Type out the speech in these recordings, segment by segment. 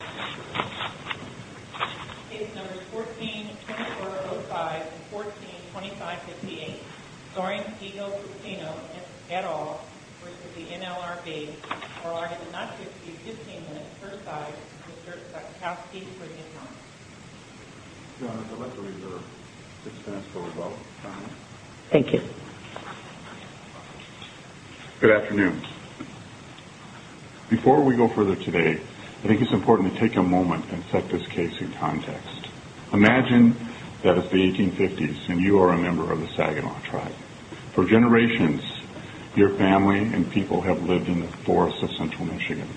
is number 14-2405 and 14-2558. Soaring Eagle Casino at all v. NLRB are arguing not to exceed 15 minutes per side. Mr. Sutkowski for the announcement. Your Honor, the record is at 6 minutes for the vote. Thank you. Good afternoon. Before we go further today, I think it's important to take a moment and set this case in context. Imagine that it's the 1850s and you are a member of the Saginaw tribe. For generations, your family and people have lived in the forests of central Michigan.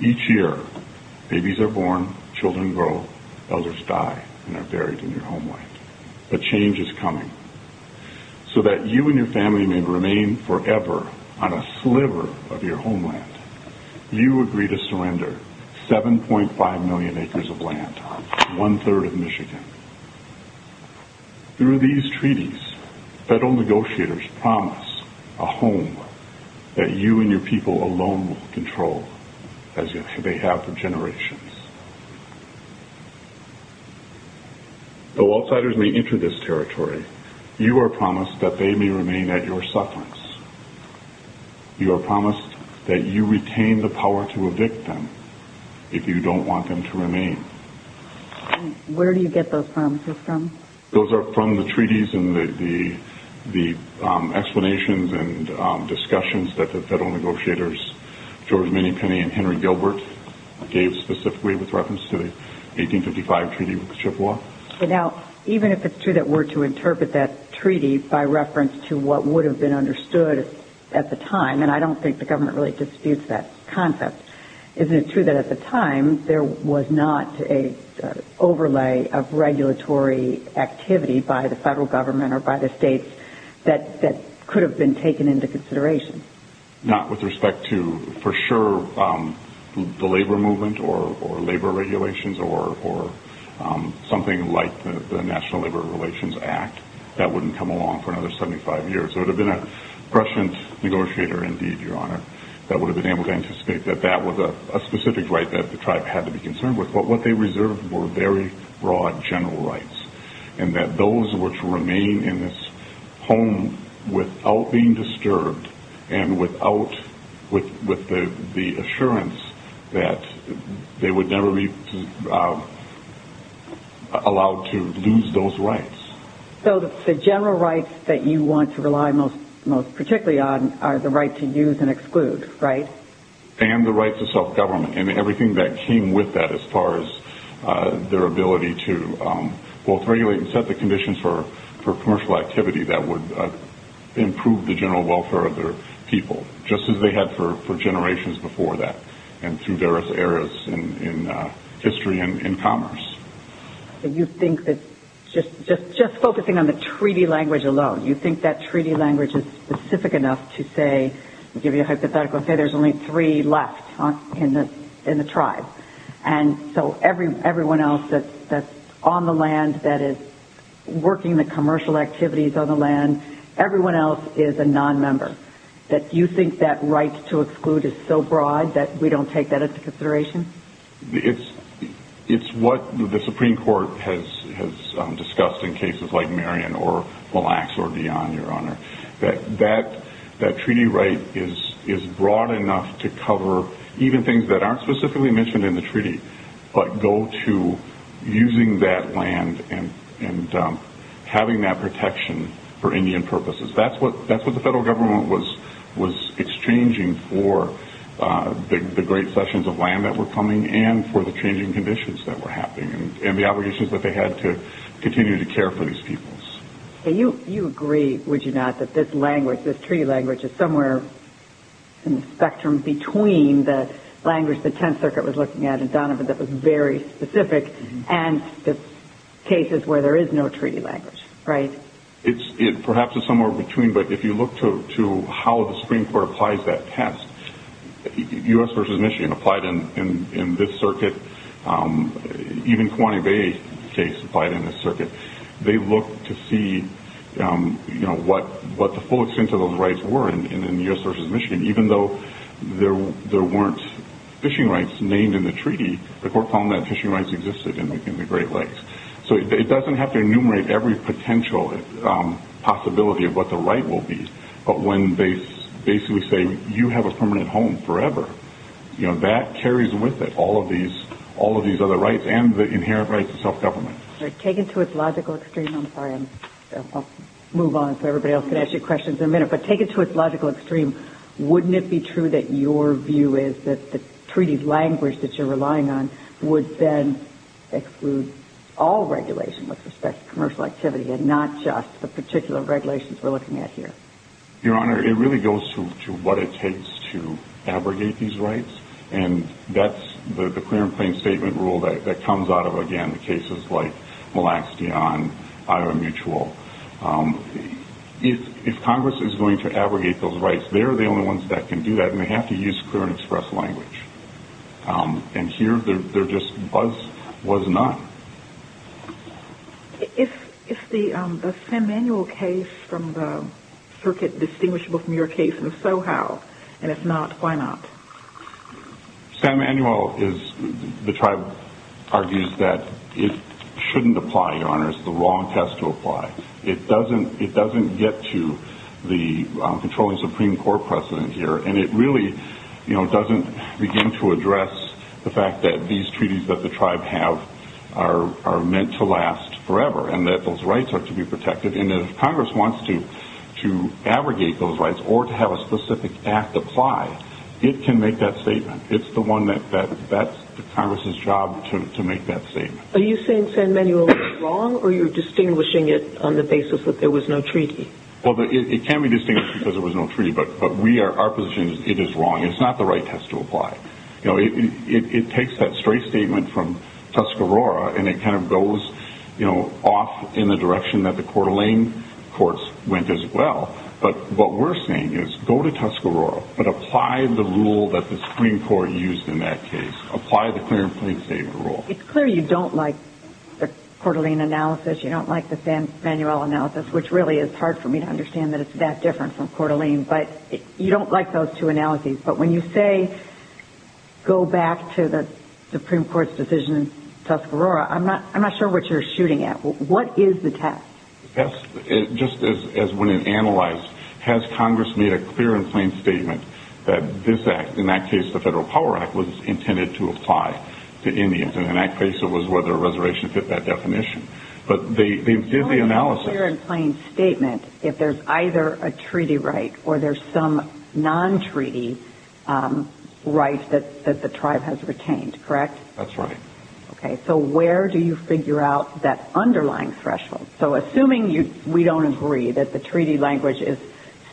Each year, babies are born, children grow, elders die, and are buried in your homeland. But change is coming. So that you and your family may remain forever on a sliver of your homeland, you agree to surrender 7.5 million acres of land, one-third of Michigan. Through these treaties, federal negotiators promise a home that you and your people alone will control, as they have for generations. Though outsiders may enter this territory, you are promised that they may remain at your sufferance. You are promised that you retain the power to evict them if you don't want them to remain. Where do you get those promises from? Those are from the treaties and the explanations and discussions that the federal negotiators, George Minnie Penny and Henry Gilbert, gave specifically with reference to the 1855 treaty with Chippewa. Now, even if it's true that we're to interpret that treaty by reference to what would have been understood at the time, and I don't think the government really disputes that concept, isn't it true that at the time there was not an overlay of regulatory activity by the federal government or by the states that could have been taken into consideration? Not with respect to, for sure, the labor movement or labor regulations or something like the National Labor Relations Act. That wouldn't come along for another 75 years. There would have been a prescient negotiator, indeed, Your Honor, that would have been able to anticipate that that was a specific right that the tribe had to be concerned with. But what they reserved were very broad general rights, and that those were to remain in this home without being disturbed and with the assurance that they would never be allowed to lose those rights. So the general rights that you want to rely most particularly on are the right to use and exclude, right? And the right to self-government, and everything that came with that as far as their ability to both regulate and set the conditions for commercial activity that would improve the general welfare of their people, just as they had for generations before that and through various eras in history and commerce. So you think that just focusing on the treaty language alone, you think that treaty language is specific enough to say, I'll give you a hypothetical, say there's only three left in the tribe. And so everyone else that's on the land that is working the commercial activities on the land, everyone else is a nonmember. Do you think that right to exclude is so broad that we don't take that into consideration? It's what the Supreme Court has discussed in cases like Marion or Mille Lacs or Dion, Your Honor. That treaty right is broad enough to cover even things that aren't specifically mentioned in the treaty, but go to using that land and having that protection for Indian purposes. That's what the federal government was exchanging for the great sessions of land that were coming and for the changing conditions that were happening and the obligations that they had to continue to care for these peoples. You agree, would you not, that this language, this treaty language is somewhere in the spectrum between the language the Tenth Circuit was looking at in Donovan that was very specific and the cases where there is no treaty language, right? Perhaps it's somewhere between, but if you look to how the Supreme Court applies that test, U.S. v. Michigan applied in this circuit, even Kewanee Bay case applied in this circuit. They looked to see what the full extent of those rights were in U.S. v. Michigan, even though there weren't fishing rights named in the treaty, the court found that fishing rights existed in the Great Lakes. It doesn't have to enumerate every potential possibility of what the right will be, but when they basically say you have a permanent home forever, that carries with it all of these other rights and the inherent rights of self-government. Taken to its logical extreme, I'm sorry, I'll move on so everybody else can ask you questions in a minute, but taken to its logical extreme, wouldn't it be true that your view is that the treaty language that you're relying on would then exclude all regulation with respect to commercial activity and not just the particular regulations we're looking at here? Your Honor, it really goes to what it takes to abrogate these rights, and that's the clear and plain statement rule that comes out of, again, the cases like Malaxion, Iowa Mutual. If Congress is going to abrogate those rights, they're the only ones that can do that, and they have to use clear and express language, and here there just was none. If the San Manuel case from the circuit is distinguishable from your case, and if so, how, and if not, why not? San Manuel, the tribe argues that it shouldn't apply, Your Honor. It doesn't get to the controlling Supreme Court precedent here, and it really doesn't begin to address the fact that these treaties that the tribe have are meant to last forever and that those rights are to be protected, and if Congress wants to abrogate those rights or to have a specific act apply, it can make that statement. It's the Congress's job to make that statement. Are you saying San Manuel was wrong, or you're distinguishing it on the basis that there was no treaty? Well, it can be distinguished because there was no treaty, but our position is it is wrong. It's not the right test to apply. It takes that straight statement from Tuscarora, and it kind of goes off in the direction that the Coeur d'Alene courts went as well, but what we're saying is go to Tuscarora, but apply the rule that the Supreme Court used in that case. Apply the clear and plain statement rule. It's clear you don't like the Coeur d'Alene analysis, you don't like the San Manuel analysis, which really is hard for me to understand that it's that different from Coeur d'Alene, but you don't like those two analyses, but when you say go back to the Supreme Court's decision in Tuscarora, I'm not sure what you're shooting at. What is the test? The test, just as when it analyzed, has Congress made a clear and plain statement that this act, in that case the Federal Power Act, was intended to apply to Indians, and in that case it was whether a reservation fit that definition, but they did the analysis. Only a clear and plain statement if there's either a treaty right or there's some non-treaty right that the tribe has retained, correct? That's right. Okay, so where do you figure out that underlying threshold? Assuming we don't agree that the treaty language is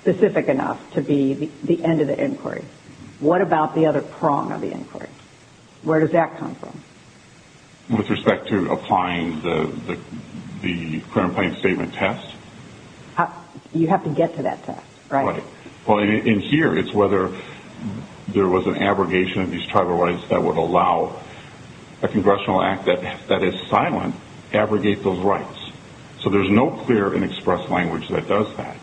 specific enough to be the end of the inquiry, what about the other prong of the inquiry? Where does that come from? With respect to applying the clear and plain statement test? You have to get to that test, right? In here, it's whether there was an abrogation of these tribal rights that would allow a congressional act that is silent to abrogate those rights. So there's no clear and expressed language that does that.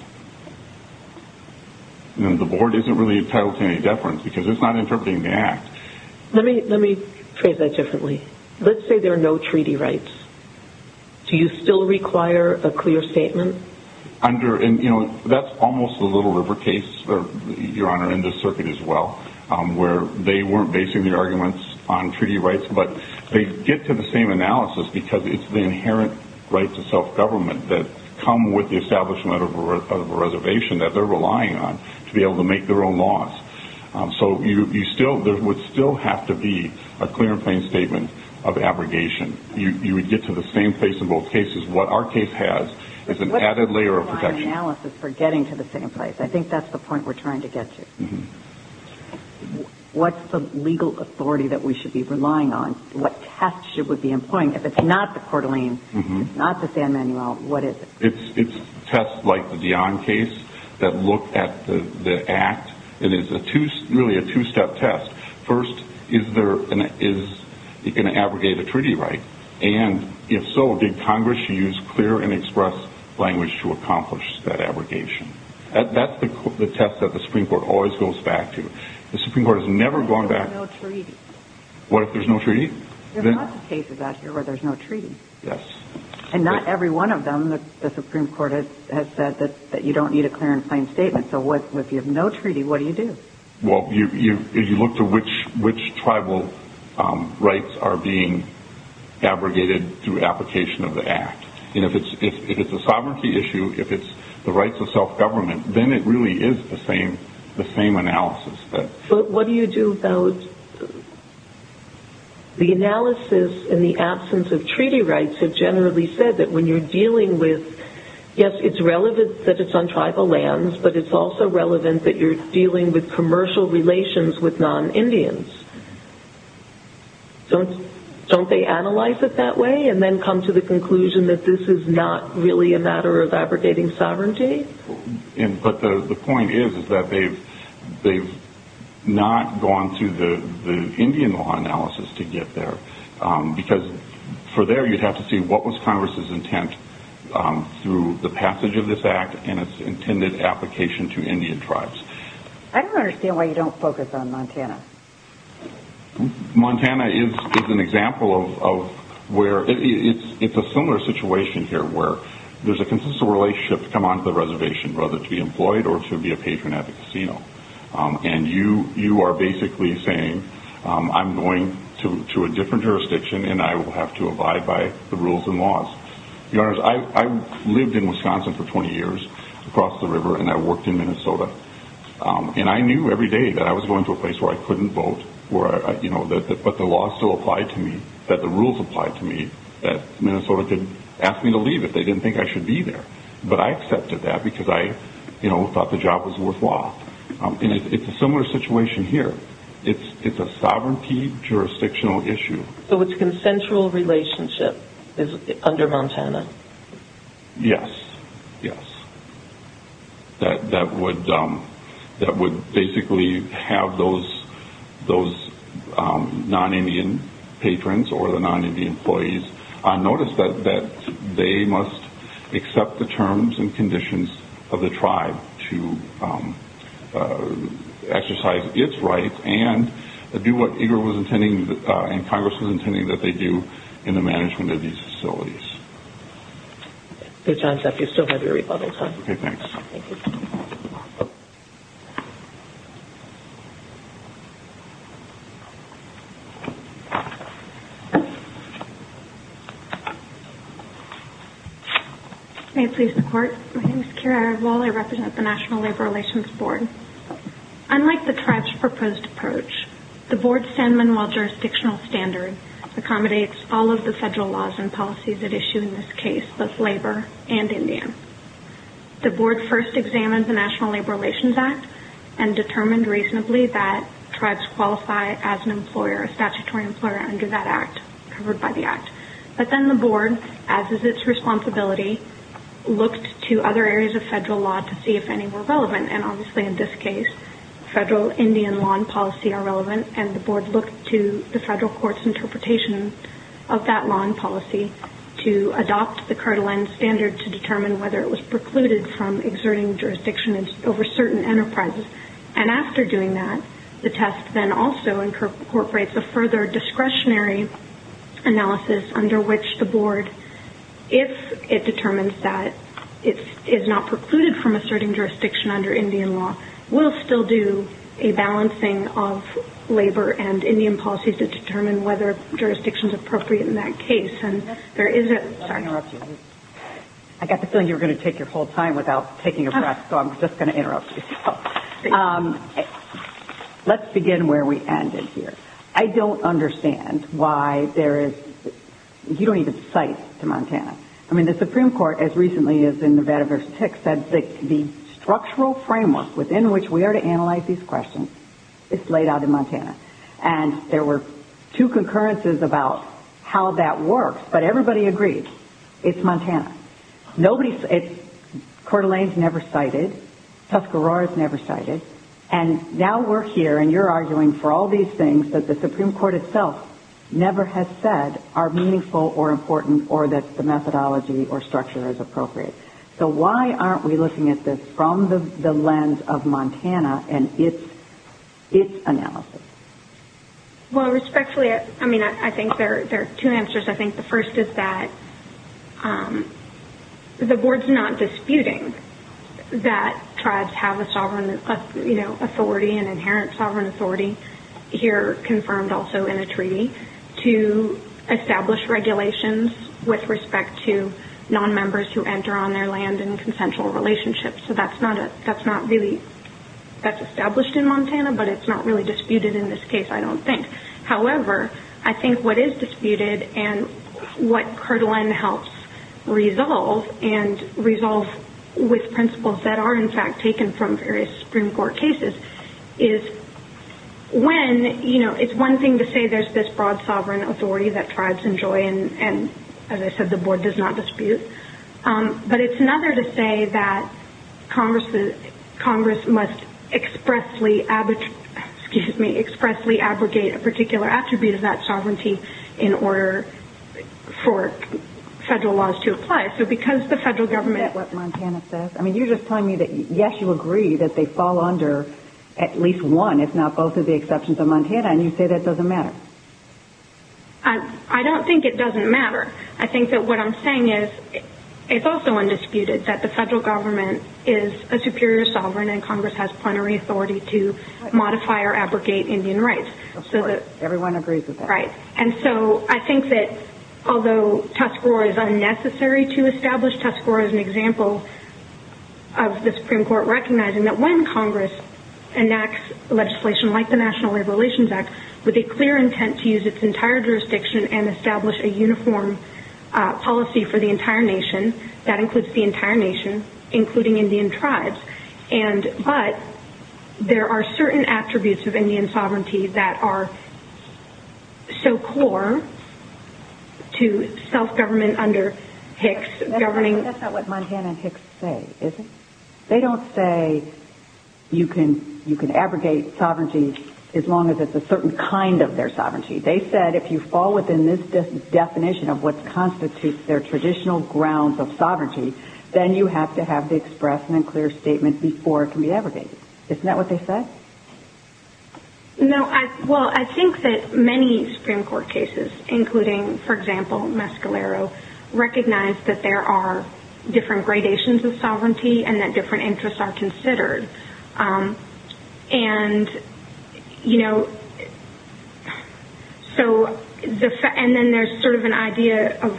The board isn't really entitled to any deference because it's not interpreting the act. Let me phrase that differently. Let's say there are no treaty rights. Do you still require a clear statement? That's almost a Little River case, Your Honor, in this circuit as well, where they weren't basing their arguments on treaty rights, but they get to the same analysis because it's the inherent rights of self-government that come with the establishment of a reservation that they're relying on to be able to make their own laws. So there would still have to be a clear and plain statement of abrogation. You would get to the same place in both cases. What our case has is an added layer of protection. I think that's the point we're trying to get to. What's the legal authority that we should be relying on? What test should we be employing? If it's not the Coeur d'Alene, if it's not the San Manuel, what is it? It's tests like the Dionne case that look at the act. It is really a two-step test. First, is it going to abrogate a treaty right? And if so, did Congress use clear and express language to accomplish that abrogation? That's the test that the Supreme Court always goes back to. The Supreme Court has never gone back... What if there's no treaty? What if there's no treaty? There's lots of cases out here where there's no treaty. Yes. And not every one of them, the Supreme Court has said that you don't need a clear and plain statement. So if you have no treaty, what do you do? If you look to which tribal rights are being abrogated through application of the act. If it's a sovereignty issue, if it's the rights of self-government, then it really is the same analysis. But what do you do about the analysis in the absence of treaty rights that generally said that when you're dealing with... Yes, it's relevant that it's on tribal lands, but it's also relevant that you're dealing with commercial relations with non-Indians. Don't they analyze it that way and then come to the conclusion that this is not really a matter of abrogating sovereignty? But the point is that they've not gone through the Indian law analysis to get there. Because for there, you'd have to see what was Congress's intent through the passage of this act and its intended application to Indian tribes. I don't understand why you don't focus on Montana. Montana is an example of where it's a similar situation here where there's a consistent relationship to come onto the reservation, whether to be employed or to be a patron at the casino. And you are basically saying I'm going to a different jurisdiction and I will have to abide by the rules and laws. Your Honors, I lived in Wisconsin for 20 years, across the river, and I worked in Minnesota. And I knew every day that I was going to a place where I couldn't vote, but the law still applied to me, that the rules applied to me, that Minnesota could ask me to leave if they didn't think I should be there. But I accepted that because I thought the job was worthwhile. And it's a similar situation here. It's a sovereignty jurisdictional issue. So its consensual relationship is under Montana? Yes, yes. That would basically have those non-Indian patrons or the non-Indian employees notice that they must accept the terms and conditions of the tribe to exercise its rights and do what Congress was intending that they do in the management of these facilities. So, John Jeffries, you still have your rebuttals, huh? Okay, thanks. Thank you. May it please the Court. My name is Keira Eardwall. I represent the National Labor Relations Board. Unlike the tribe's proposed approach, the Board's San Manuel jurisdictional standard accommodates all of the federal laws and policies at issue in this case, both labor and Indian. The Board first examined the National Labor Relations Act and determined reasonably that tribes qualify as an employer, a statutory employer under that Act, covered by the Act. But then the Board, as is its responsibility, looked to other areas of federal law to see if any were relevant and obviously in this case federal Indian law and policy are relevant. And the Board looked to the federal court's interpretation of that law and policy to adopt the Kirtland standard to determine whether it was precluded from exerting jurisdiction over certain enterprises. And after doing that, the test then also incorporates a further discretionary analysis under which the Board, if it determines that it is not precluded from asserting jurisdiction under Indian law, will still do a balancing of labor and Indian policies to determine whether jurisdiction is appropriate in that case. And there is a... I got the feeling you were going to take your whole time without taking a breath, so I'm just going to interrupt you. Let's begin where we ended here. I don't understand why there is... you don't even cite to Montana. The structural framework within which we are to analyze these questions is laid out in Montana. And there were two concurrences about how that works, but everybody agreed. It's Montana. Coeur d'Alene's never cited. Tuscarora's never cited. And now we're here and you're arguing for all these things that the Supreme Court itself never has said are meaningful or important or that the methodology or structure is appropriate. So why aren't we looking at this from the lens of Montana and its analysis? Well, respectfully, I mean, I think there are two answers. I think the first is that the Board's not disputing that tribes have a sovereign authority, an inherent sovereign authority, here confirmed also in a treaty, to establish regulations with respect to nonmembers who enter on their land in consensual relationships. So that's not really... that's established in Montana, but it's not really disputed in this case, I don't think. However, I think what is disputed and what Coeur d'Alene helps resolve and resolve with principles that are, in fact, taken from various Supreme Court cases, is when, you know, it's one thing to say there's this broad sovereign authority that tribes enjoy and, as I said, the Board does not dispute. But it's another to say that Congress must expressly ab... excuse me, expressly abrogate a particular attribute of that sovereignty in order for federal laws to apply. So because the federal government... Is that what Montana says? I mean, you're just telling me that, yes, you agree that they fall under at least one, if not both of the exceptions of Montana, and you say that doesn't matter. I don't think it doesn't matter. I think that what I'm saying is it's also undisputed that the federal government is a superior sovereign and Congress has plenary authority to modify or abrogate Indian rights. Of course. Everyone agrees with that. Right. And so I think that although Tuscarora is unnecessary to establish, Tuscarora is an example of the Supreme Court recognizing that when Congress enacts legislation like the National Labor Relations Act with a clear intent to use its entire jurisdiction and establish a uniform policy for the entire nation, that includes the entire nation, including Indian tribes, but there are certain attributes of Indian sovereignty that are so core to self-government under Hicks. That's not what Montana and Hicks say, is it? They don't say you can abrogate sovereignty as long as it's a certain kind of their sovereignty. They said if you fall within this definition of what constitutes their traditional grounds of sovereignty, then you have to have to express an unclear statement before it can be abrogated. Isn't that what they said? No. Well, I think that many Supreme Court cases, including, for example, Mescalero, recognize that there are different gradations of sovereignty and that different interests are considered. And, you know, so and then there's sort of an idea of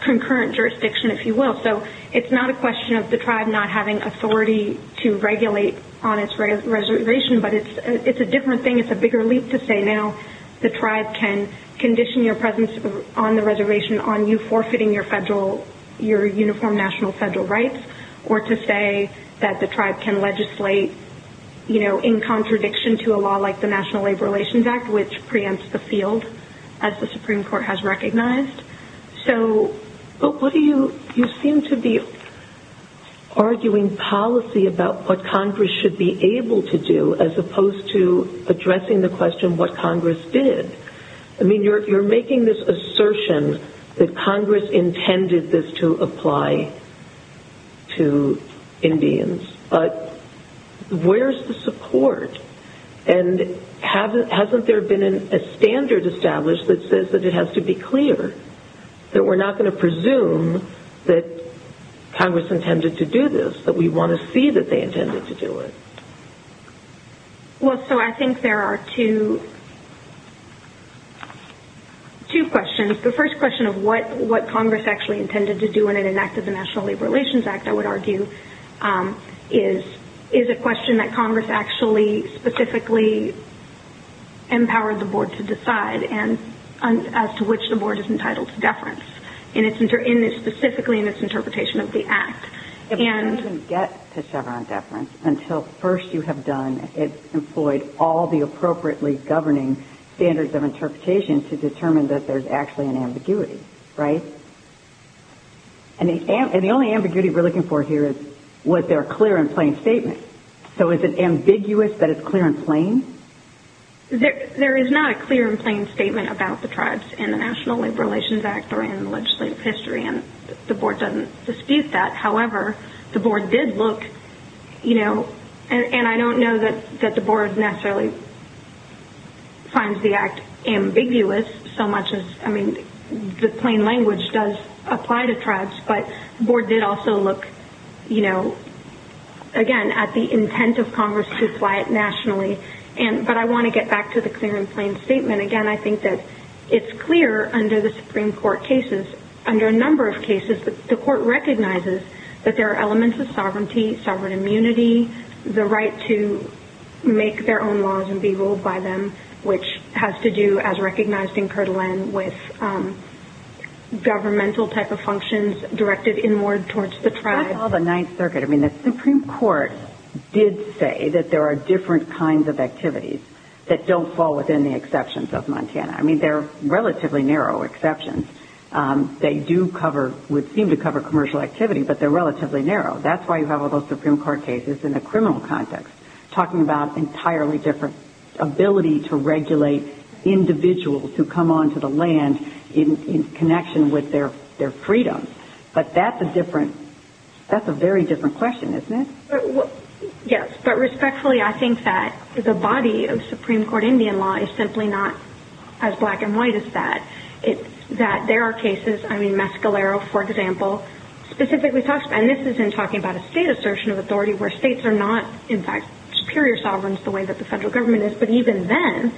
concurrent jurisdiction, if you will. So it's not a question of the tribe not having authority to regulate on its reservation, but it's a different thing. It's a bigger leap to say now the tribe can condition your presence on the reservation on you forfeiting your federal, your uniform national federal rights, or to say that the tribe can legislate, you know, in contradiction to a law like the National Labor Relations Act, which preempts the field, as the Supreme Court has recognized. But you seem to be arguing policy about what Congress should be able to do as opposed to addressing the question what Congress did. I mean, you're making this assertion that Congress intended this to apply to Indians. But where's the support? And hasn't there been a standard established that says that it has to be clear that we're not going to presume that Congress intended to do this, that we want to see that they intended to do it? Well, so I think there are two questions. The first question of what Congress actually intended to do in an act of the National Labor Relations Act, I would argue, is a question that Congress actually specifically empowered the board to decide as to which the board is entitled to deference, and it's specifically in its interpretation of the act. It doesn't get to Chevron deference until first you have done, employed all the appropriately governing standards of interpretation to determine that there's actually an ambiguity, right? And the only ambiguity we're looking for here is was there a clear and plain statement. So is it ambiguous that it's clear and plain? There is not a clear and plain statement about the tribes in the National Labor Relations Act or in legislative history, and the board doesn't dispute that. However, the board did look, you know, and I don't know that the board necessarily finds the act ambiguous so much as, I mean, the plain language does apply to tribes, but the board did also look, you know, again, at the intent of Congress to apply it nationally. But I want to get back to the clear and plain statement. Again, I think that it's clear under the Supreme Court cases, under a number of cases the court recognizes that there are elements of sovereignty, sovereign immunity, the right to make their own laws and be ruled by them, which has to do, as recognized in Kirtland, with governmental type of functions directed inward towards the tribe. That's all the Ninth Circuit. I mean, the Supreme Court did say that there are different kinds of activities that don't fall within the exceptions of Montana. I mean, they're relatively narrow exceptions. They do cover, would seem to cover commercial activity, but they're relatively narrow. That's why you have all those Supreme Court cases in the criminal context talking about entirely different ability to regulate individuals who come onto the land in connection with their freedom. But that's a different, that's a very different question, isn't it? Yes, but respectfully, I think that the body of Supreme Court Indian law is simply not as black and white as that. There are cases, I mean, Mescalero, for example, specifically talks about, and this is in talking about a state assertion of authority where states are not, in fact, superior sovereigns the way that the federal government is, but even then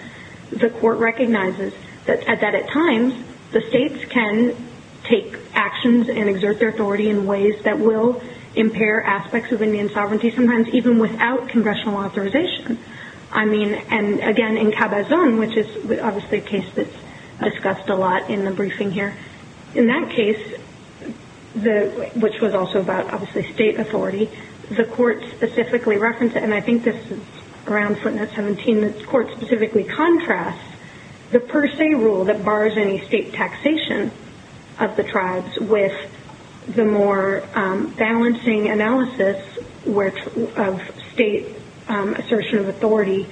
the court recognizes that at times the states can take actions and exert their authority in ways that will impair aspects of Indian sovereignty, sometimes even without congressional authorization. I mean, and again, in Cabazon, which is obviously a case that's discussed a lot in the briefing here, in that case, which was also about obviously state authority, the court specifically referenced it, and I think this is around footnote 17, the court specifically contrasts the per se rule that bars any state taxation of the tribes with the more balancing analysis of state assertion of authority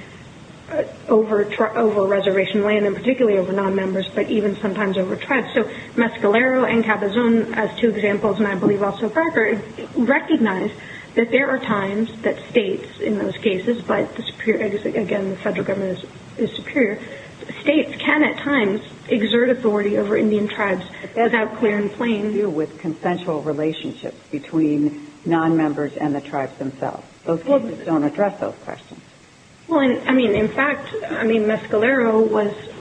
over reservation land, and particularly over nonmembers, but even sometimes over tribes. So Mescalero and Cabazon as two examples, and I believe also Parker, recognize that there are times that states in those cases, but again, the federal government is superior, states can at times exert authority over Indian tribes without clear and plain view with consensual relationships between nonmembers and the tribes themselves. Those cases don't address those questions. Well, I mean, in fact, I mean, Mescalero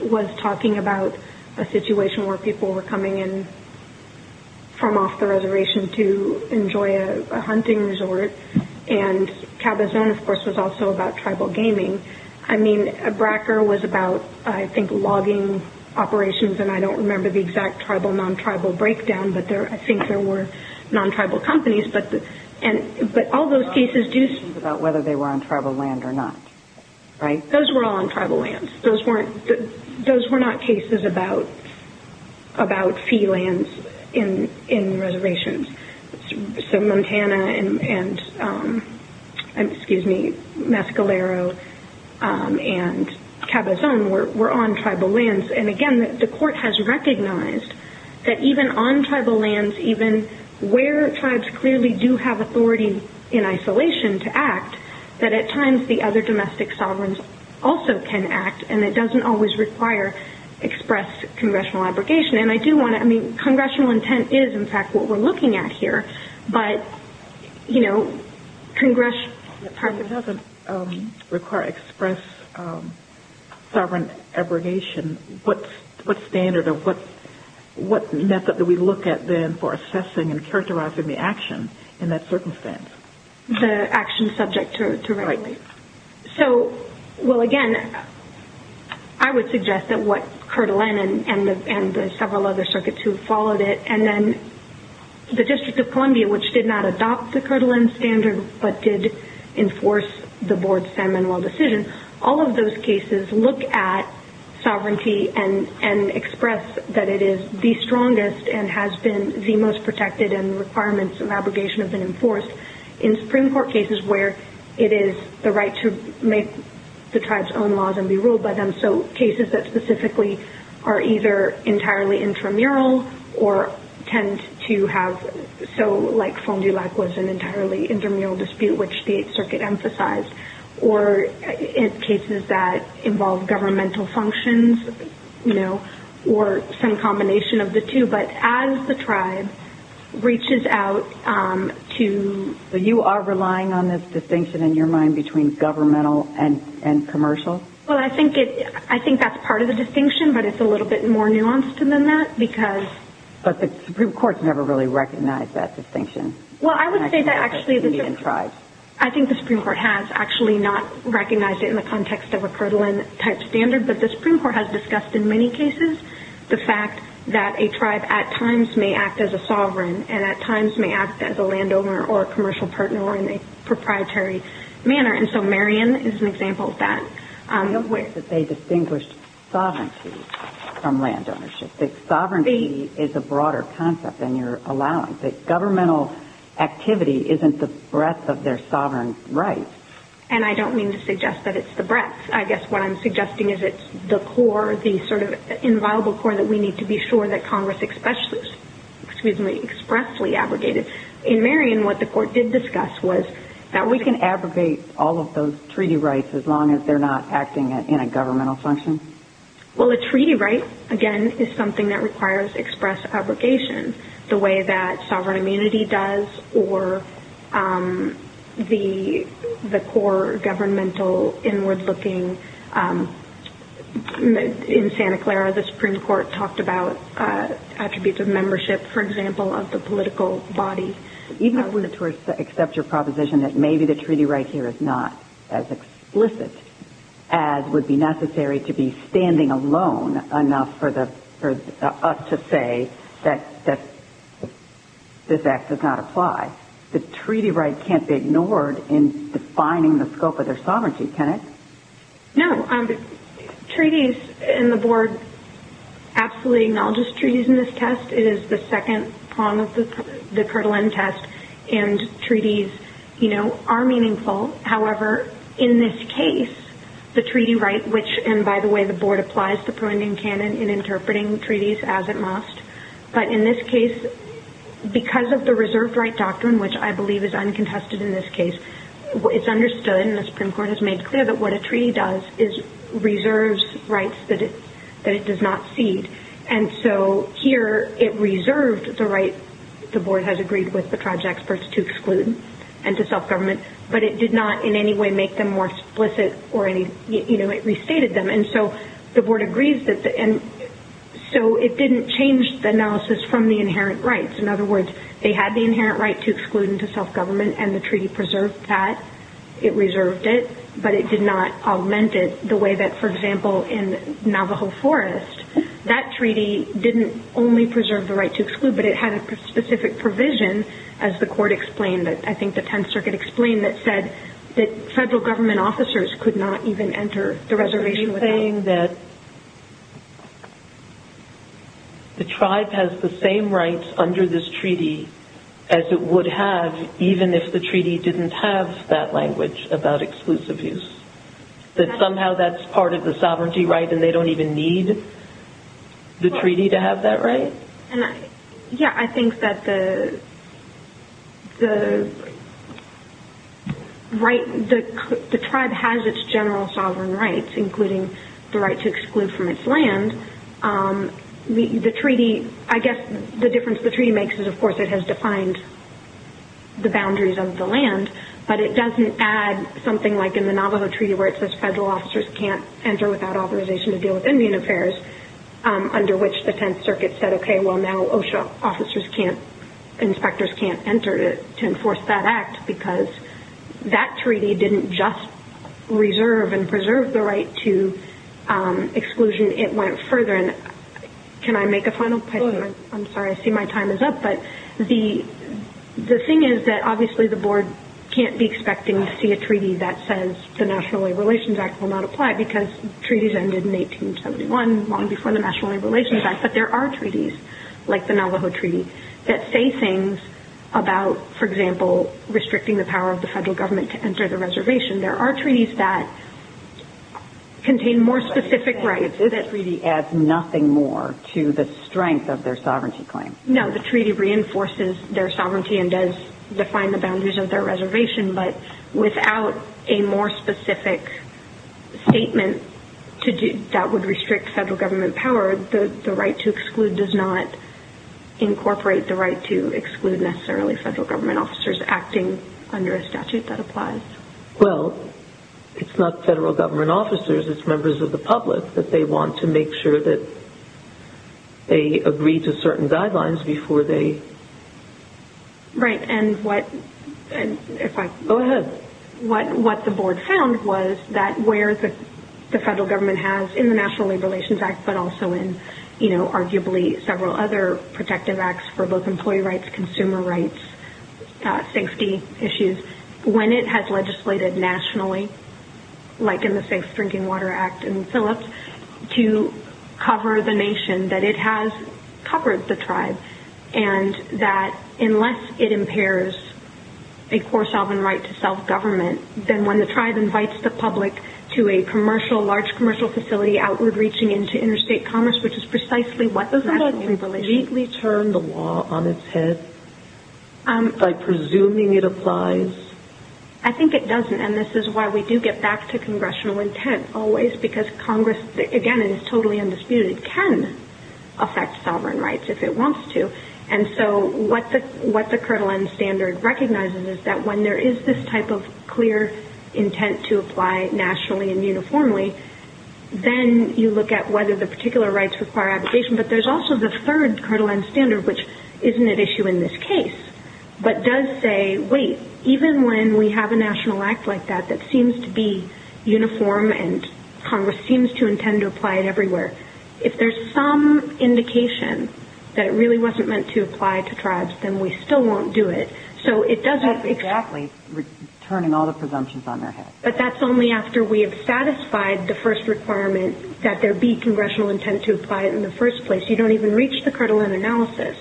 was talking about a situation where people were coming in from off the reservation to enjoy a hunting resort, and Cabazon, of course, was also about tribal gaming. I mean, Bracker was about, I think, logging operations, and I don't remember the exact tribal, non-tribal breakdown, but I think there were non-tribal companies, but all those cases do speak about whether they were on tribal land or not, right? Those were all on tribal lands. Those were not cases about fee lands in reservations. So Montana and, excuse me, Mescalero and Cabazon were on tribal lands, and again, the court has recognized that even on tribal lands, even where tribes clearly do have authority in isolation to act, that at times the other domestic sovereigns also can act, and it doesn't always require express congressional abrogation. And I do want to, I mean, congressional intent is, in fact, what we're looking at here, but, you know, It doesn't require express sovereign abrogation. What standard or what method do we look at then for assessing and characterizing the action in that circumstance? The action subject to regulation. Right. So, well, again, I would suggest that what Kirtland and the several other circuits who followed it, and then the District of Columbia, which did not adopt the Kirtland standard, but did enforce the board's San Manuel decision, all of those cases look at sovereignty and express that it is the strongest and has been the most protected and requirements and abrogation have been enforced. In Supreme Court cases where it is the right to make the tribes own laws and be ruled by them, so cases that specifically are either entirely intramural or tend to have, so like Fond du Lac was an entirely intramural dispute, which the Eighth Circuit emphasized, or in cases that involve governmental functions, you know, or some combination of the two, but as the tribe reaches out to You are relying on this distinction in your mind between governmental and commercial? Well, I think that's part of the distinction, but it's a little bit more nuanced than that because But the Supreme Court's never really recognized that distinction. Well, I would say that actually the Supreme Court I think the Supreme Court has actually not recognized it in the context of a Kirtland-type standard, but the Supreme Court has discussed in many cases the fact that a tribe at times may act as a sovereign and at times may act as a landowner or a commercial partner or in a proprietary manner. And so Marion is an example of that. But they distinguished sovereignty from landownership. Sovereignty is a broader concept than your allowance. Governmental activity isn't the breadth of their sovereign rights. And I don't mean to suggest that it's the breadth. I guess what I'm suggesting is it's the core, the sort of inviolable core that we need to be sure that Congress expressly abrogated. In Marion, what the Court did discuss was that we can abrogate all of those treaty rights as long as they're not acting in a governmental function. Well, a treaty right, again, is something that requires express abrogation, the way that sovereign immunity does or the core governmental inward-looking. In Santa Clara, the Supreme Court talked about attributes of membership, for example, of the political body. Even when the Tories accept your proposition that maybe the treaty right here is not as explicit as would be necessary to be standing alone enough for us to say that this act does not apply, the treaty right can't be ignored in defining the scope of their sovereignty, can it? No. Treaties, and the Board absolutely acknowledges treaties in this test. It is the second prong of the Kirtland test, and treaties are meaningful. However, in this case, the treaty right, which, and by the way, the Board applies the preeminent canon in interpreting treaties as it must. But in this case, because of the reserved right doctrine, which I believe is uncontested in this case, it's understood and the Supreme Court has made clear that what a treaty does is reserves rights that it does not cede. And so here it reserved the right the Board has agreed with the tribes experts to exclude and to self-government, but it did not in any way make them more explicit or any, you know, it restated them. And so the Board agrees that, and so it didn't change the analysis from the inherent rights. In other words, they had the inherent right to exclude and to self-government, and the treaty preserved that. It reserved it, but it did not augment it the way that, for example, in Navajo Forest, that treaty didn't only preserve the right to exclude, but it had a specific provision, as the court explained, I think the Tenth Circuit explained, that said that federal government officers could not even enter the reservation without it. The tribe has the same rights under this treaty as it would have, even if the treaty didn't have that language about exclusive use. That somehow that's part of the sovereignty right and they don't even need the treaty to have that right? Yeah, I think that the tribe has its general sovereign rights, including the right to exclude from its land. The treaty, I guess the difference the treaty makes is, of course, it has defined the boundaries of the land, but it doesn't add something like in the Navajo Treaty where it says federal officers can't enter without authorization to deal with Indian affairs, under which the Tenth Circuit said, okay, well now OSHA officers can't, inspectors can't enter to enforce that act, because that treaty didn't just reserve and preserve the right to exclusion, it went further. Can I make a final point? Go ahead. I'm sorry, I see my time is up, but the thing is that obviously the board can't be expecting to see a treaty that says the National Labor Relations Act will not apply, because treaties ended in 1871, long before the National Labor Relations Act, but there are treaties like the Navajo Treaty that say things about, for example, restricting the power of the federal government to enter the reservation. There are treaties that contain more specific rights. This treaty adds nothing more to the strength of their sovereignty claim. No, the treaty reinforces their sovereignty and does define the boundaries of their reservation, but without a more specific statement that would restrict federal government power, the right to exclude does not incorporate the right to exclude necessarily federal government officers acting under a statute that applies. Well, it's not federal government officers, it's members of the public that they want to make sure that they agree to certain guidelines before they... Right, and what... Go ahead. What the board found was that where the federal government has, in the National Labor Relations Act, but also in arguably several other protective acts for both employee rights, consumer rights, safety issues, when it has legislated nationally, like in the Safe Drinking Water Act and Phillips, to cover the nation, that it has covered the tribe, and that unless it impairs a core sovereign right to self-government, then when the tribe invites the public to a large commercial facility outward reaching into interstate commerce, which is precisely what the National Labor Relations Act... Doesn't that neatly turn the law on its head by presuming it applies? I think it doesn't, and this is why we do get back to congressional intent always, because Congress, again, it is totally undisputed, can affect sovereign rights if it wants to, and so what the Kirtland Standard recognizes is that when there is this type of clear intent to apply nationally and uniformly, then you look at whether the particular rights require abrogation, but there's also the third Kirtland Standard which isn't at issue in this case, but does say, wait, even when we have a national act like that that seems to be uniform and Congress seems to intend to apply it everywhere, if there's some indication that it really wasn't meant to apply to tribes, then we still won't do it. So it doesn't... That's exactly turning all the presumptions on their head. But that's only after we have satisfied the first requirement that there be congressional intent to apply it in the first place. You don't even reach the Kirtland analysis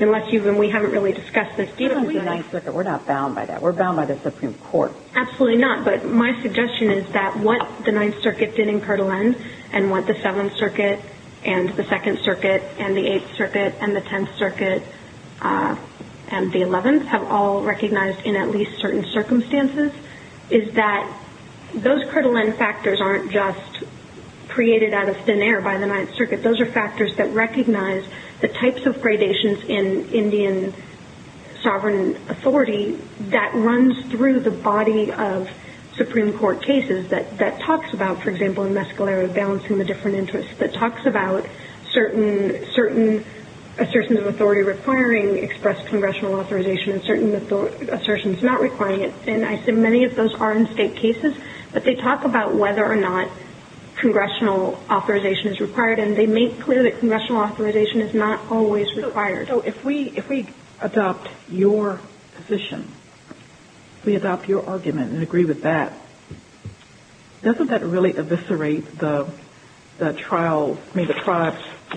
unless you... And we haven't really discussed this. Kirtland's a nice liquor. We're not bound by that. We're bound by the Supreme Court. Absolutely not, but my suggestion is that what the Ninth Circuit did in Kirtland and what the Seventh Circuit and the Second Circuit and the Eighth Circuit and the Tenth Circuit and the Eleventh have all recognized in at least certain circumstances is that those Kirtland factors aren't just created out of thin air by the Ninth Circuit. Those are factors that recognize the types of gradations in Indian sovereign authority that runs through the body of Supreme Court cases that talks about, for example, in Mescalero, balancing the different interests, that talks about certain assertions of authority requiring expressed congressional authorization and certain assertions not requiring it. And I assume many of those are in state cases, but they talk about whether or not congressional authorization is required and they make clear that congressional authorization is not always required. So if we adopt your position, if we adopt your argument and agree with that, doesn't that really eviscerate the tribe's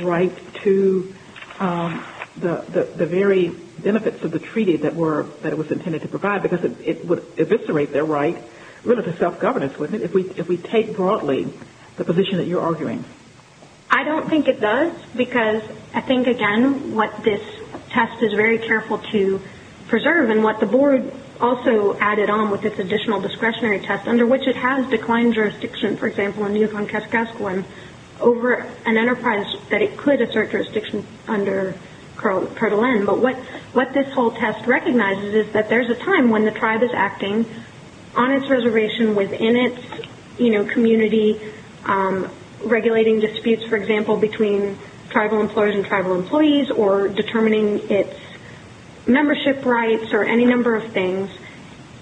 right to the very benefits of the treaty that it was intended to provide because it would eviscerate their right really to self-governance, wouldn't it, if we take broadly the position that you're arguing? I don't think it does because I think, again, what this test is very careful to preserve and what the board also added on with this additional discretionary test under which it has declined jurisdiction, for example, in Yukon-Kaskaskawan, over an enterprise that it could assert jurisdiction under Kirtland. But what this whole test recognizes is that there's a time when the tribe is acting on its reservation within its community, regulating disputes, for example, between tribal employers and tribal employees or determining its membership rights or any number of things.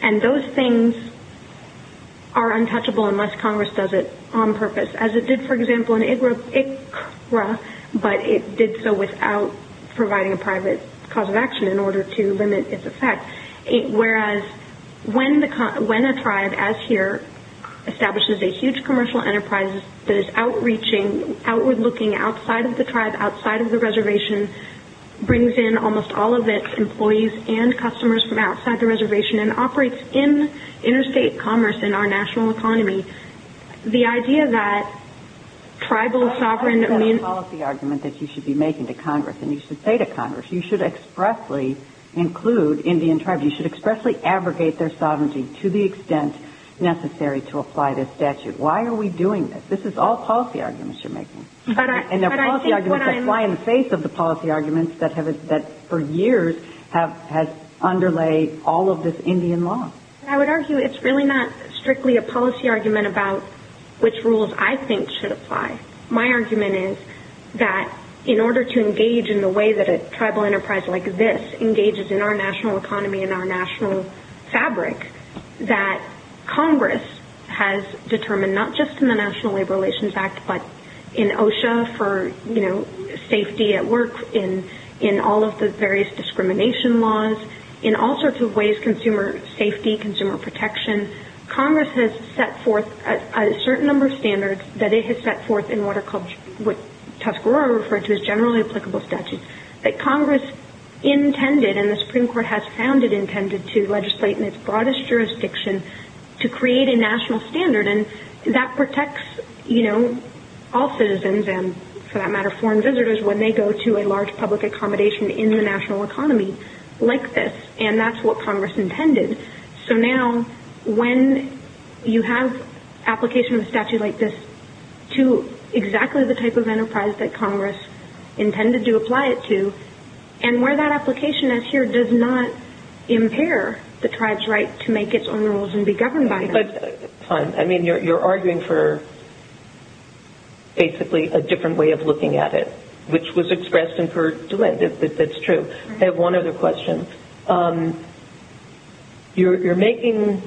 And those things are untouchable unless Congress does it on purpose, as it did, for example, in Iqra, but it did so without providing a private cause of action in order to limit its effect. Whereas when a tribe, as here, establishes a huge commercial enterprise that is outreaching, outward-looking outside of the tribe, outside of the reservation, brings in almost all of its employees and customers from outside the reservation and operates in interstate commerce in our national economy, the idea that tribal sovereign... Well, that's not a policy argument that you should be making to Congress and you should say to Congress. You should expressly include Indian tribes. You should expressly abrogate their sovereignty to the extent necessary to apply this statute. Why are we doing this? This is all policy arguments you're making. And they're policy arguments that fly in the face of the policy arguments that, for years, have underlayed all of this Indian law. I would argue it's really not strictly a policy argument about which rules I think should apply. My argument is that in order to engage in the way that a tribal enterprise like this engages in our national economy and our national fabric, that Congress has determined not just in the National Labor Relations Act but in OSHA for safety at work, in all of the various discrimination laws, in all sorts of ways, consumer safety, consumer protection, Congress has set forth a certain number of standards that it has set forth in what Tuscarora referred to as generally applicable statutes that Congress intended, and the Supreme Court has found it intended, to legislate in its broadest jurisdiction to create a national standard. And that protects all citizens and, for that matter, foreign visitors when they go to a large public accommodation in the national economy like this. And that's what Congress intended. So now, when you have application of a statute like this to exactly the type of enterprise that Congress intended to apply it to, and where that application is here does not impair the tribe's right to make its own rules and be governed by them. Fine. I mean, you're arguing for, basically, a different way of looking at it, which was expressed in Purdue. That's true. I have one other question. You're making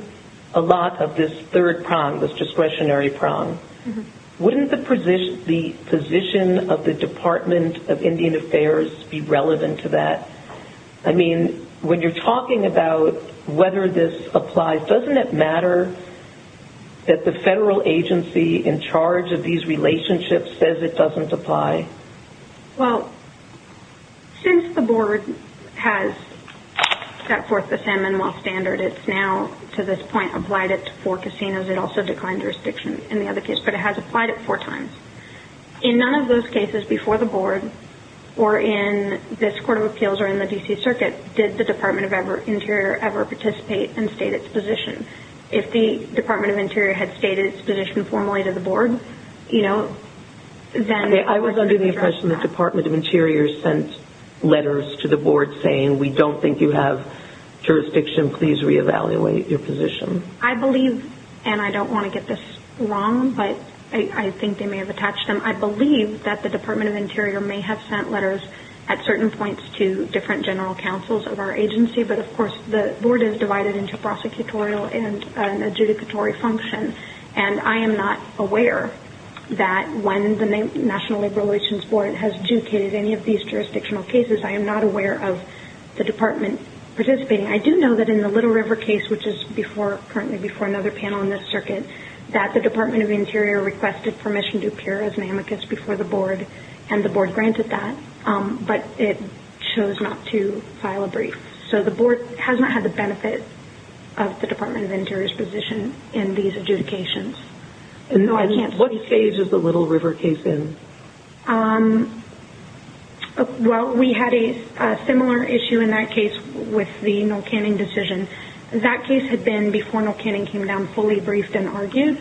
a lot of this third prong, this discretionary prong. Wouldn't the position of the Department of Indian Affairs be relevant to that? I mean, when you're talking about whether this applies, doesn't it matter that the federal agency in charge of these relationships says it doesn't apply? Well, since the Board has set forth the San Manuel Standard, it's now, to this point, applied it to four casinos. It also declined jurisdiction in the other case, but it has applied it four times. In none of those cases before the Board or in this Court of Appeals or in the D.C. Circuit did the Department of Interior ever participate and state its position. If the Department of Interior had stated its position formally to the Board, you know, then... I was under the impression the Department of Interior sent letters to the Board saying, we don't think you have jurisdiction. Please reevaluate your position. I believe, and I don't want to get this wrong, but I think they may have attached them. I believe that the Department of Interior may have sent letters at certain points to different general counsels of our agency, but, of course, the Board is divided into prosecutorial and an adjudicatory function. I am not aware that when the National Labor Relations Board has adjudicated any of these jurisdictional cases, I am not aware of the Department participating. I do know that in the Little River case, which is currently before another panel in this circuit, that the Department of Interior requested permission to appear as an amicus before the Board, and the Board granted that, but it chose not to file a brief. So the Board has not had the benefit of the Department of Interior's position in these adjudications. And what stage is the Little River case in? Well, we had a similar issue in that case with the Noel Canning decision. That case had been, before Noel Canning came down, fully briefed and argued.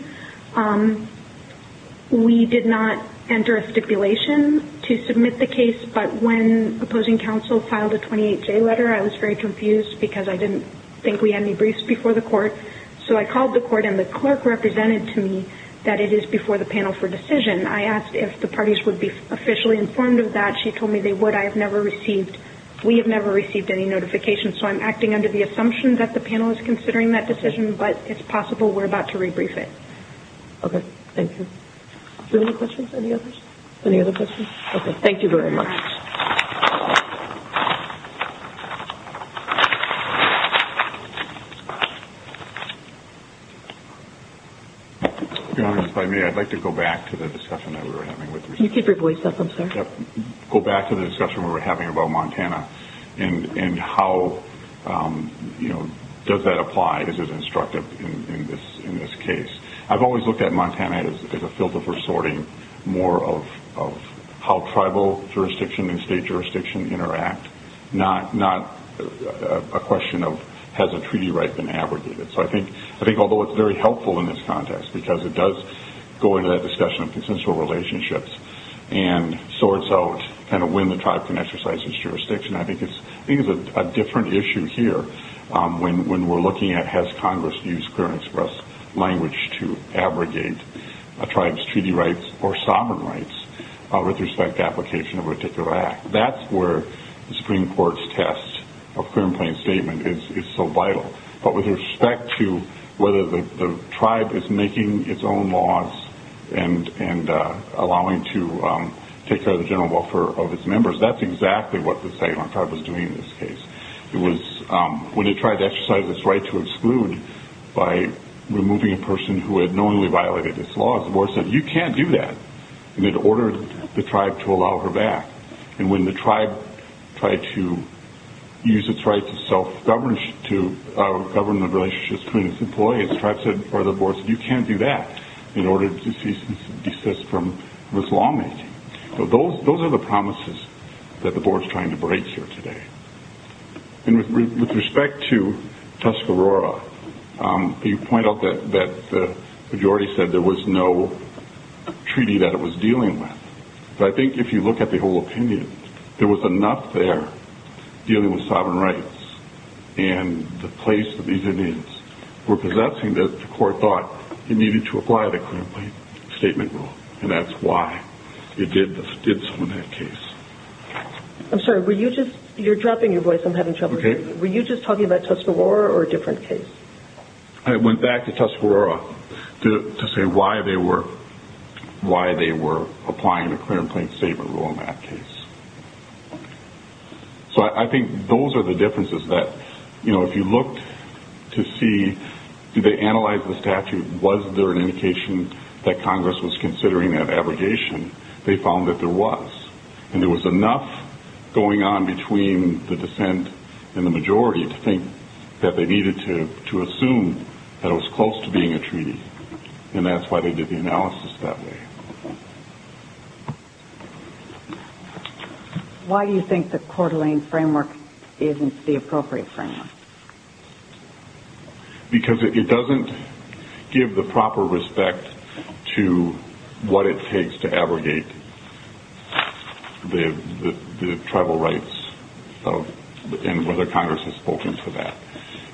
We did not enter a stipulation to submit the case, but when opposing counsel filed a 28-J letter, I was very confused because I didn't think we had any briefs before the court. So I called the court, and the clerk represented to me that it is before the panel for decision. I asked if the parties would be officially informed of that. She told me they would. I have never received – we have never received any notification. So I'm acting under the assumption that the panel is considering that decision, but it's possible we're about to rebrief it. Okay. Thank you. Are there any questions? Any others? Any other questions? Okay. Thank you very much. Thank you. If I may, I'd like to go back to the discussion that we were having with – Can you keep your voice up, I'm sorry? Yep. Go back to the discussion we were having about Montana and how, you know, does that apply? Is it instructive in this case? I've always looked at Montana as a filter for sorting, more of how tribal jurisdiction and state jurisdiction interact, not a question of has a treaty right been abrogated. So I think although it's very helpful in this context, because it does go into that discussion of consensual relationships and sorts out kind of when the tribe can exercise its jurisdiction, I think it's a different issue here when we're looking at has Congress used clear and express language to abrogate a tribe's treaty rights or sovereign rights with respect to application of a particular act. That's where the Supreme Court's test of clear and plain statement is so vital. But with respect to whether the tribe is making its own laws and allowing to take care of the general welfare of its members, that's exactly what the Saguaro Tribe was doing in this case. It was when it tried to exercise its right to exclude by removing a person who had knowingly violated its laws, the board said you can't do that. And it ordered the tribe to allow her back. And when the tribe tried to use its right to govern the relationships between its employees, the board said you can't do that in order to cease and desist from this lawmaking. So those are the promises that the board is trying to break here today. And with respect to Tuscarora, you point out that the majority said there was no treaty that it was dealing with. But I think if you look at the whole opinion, there was enough there dealing with sovereign rights and the place that these Indians were possessing that the court thought it needed to apply the clear and plain statement rule. And that's why it did so in that case. I'm sorry, you're dropping your voice. I'm having trouble hearing you. Were you just talking about Tuscarora or a different case? I went back to Tuscarora to say why they were applying the clear and plain statement rule in that case. So I think those are the differences that if you looked to see did they analyze the statute, was there an indication that Congress was considering that abrogation, they found that there was. And there was enough going on between the dissent and the majority to think that they needed to assume that it was close to being a treaty. And that's why they did the analysis that way. Why do you think the Coeur d'Alene framework isn't the appropriate framework? Because it doesn't give the proper respect to what it takes to abrogate the tribal rights and whether Congress has spoken for that.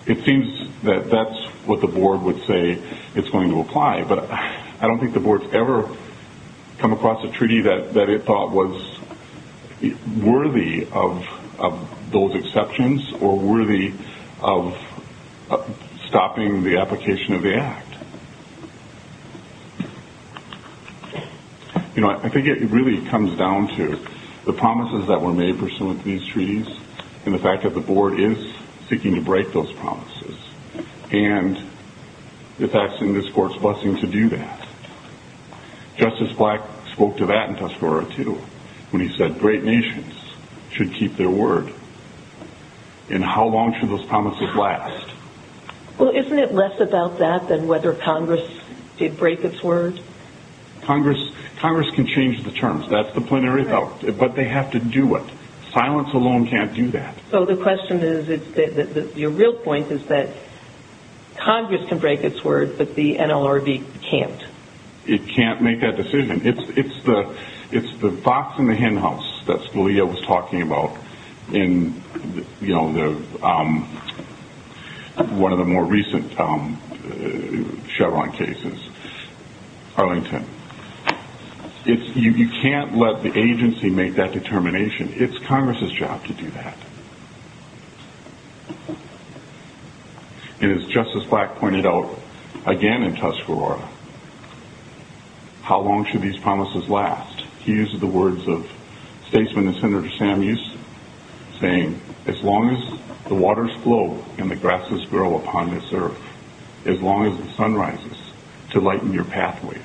It seems that that's what the board would say it's going to apply, but I don't think the board's ever come across a treaty that it thought was worthy of those exceptions or worthy of stopping the application of the act. You know, I think it really comes down to the promises that were made for some of these treaties and the fact that the board is seeking to break those promises and it's actually in this court's blessing to do that. Justice Black spoke to that in Tuscarora, too, when he said great nations should keep their word. And how long should those promises last? Well, isn't it less about that than whether Congress did break its word? Congress can change the terms. That's the point I raised, but they have to do it. Silence alone can't do that. So the question is, your real point is that Congress can break its word, but the NLRB can't. It can't make that decision. It's the fox in the henhouse that Scalia was talking about in one of the more recent Chevron cases, Arlington. You can't let the agency make that determination. It's Congress's job to do that. And as Justice Black pointed out again in Tuscarora, how long should these promises last? He uses the words of statesman and Senator Sam Houston saying, as long as the waters flow and the grasses grow upon this earth, as long as the sun rises to lighten your pathways,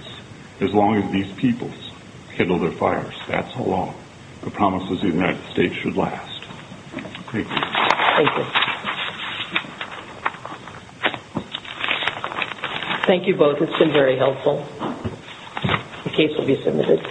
as long as these peoples handle their fires, that's how long the promises of the United States should last. Thank you. Thank you. Thank you both. It's been very helpful. The case will be submitted.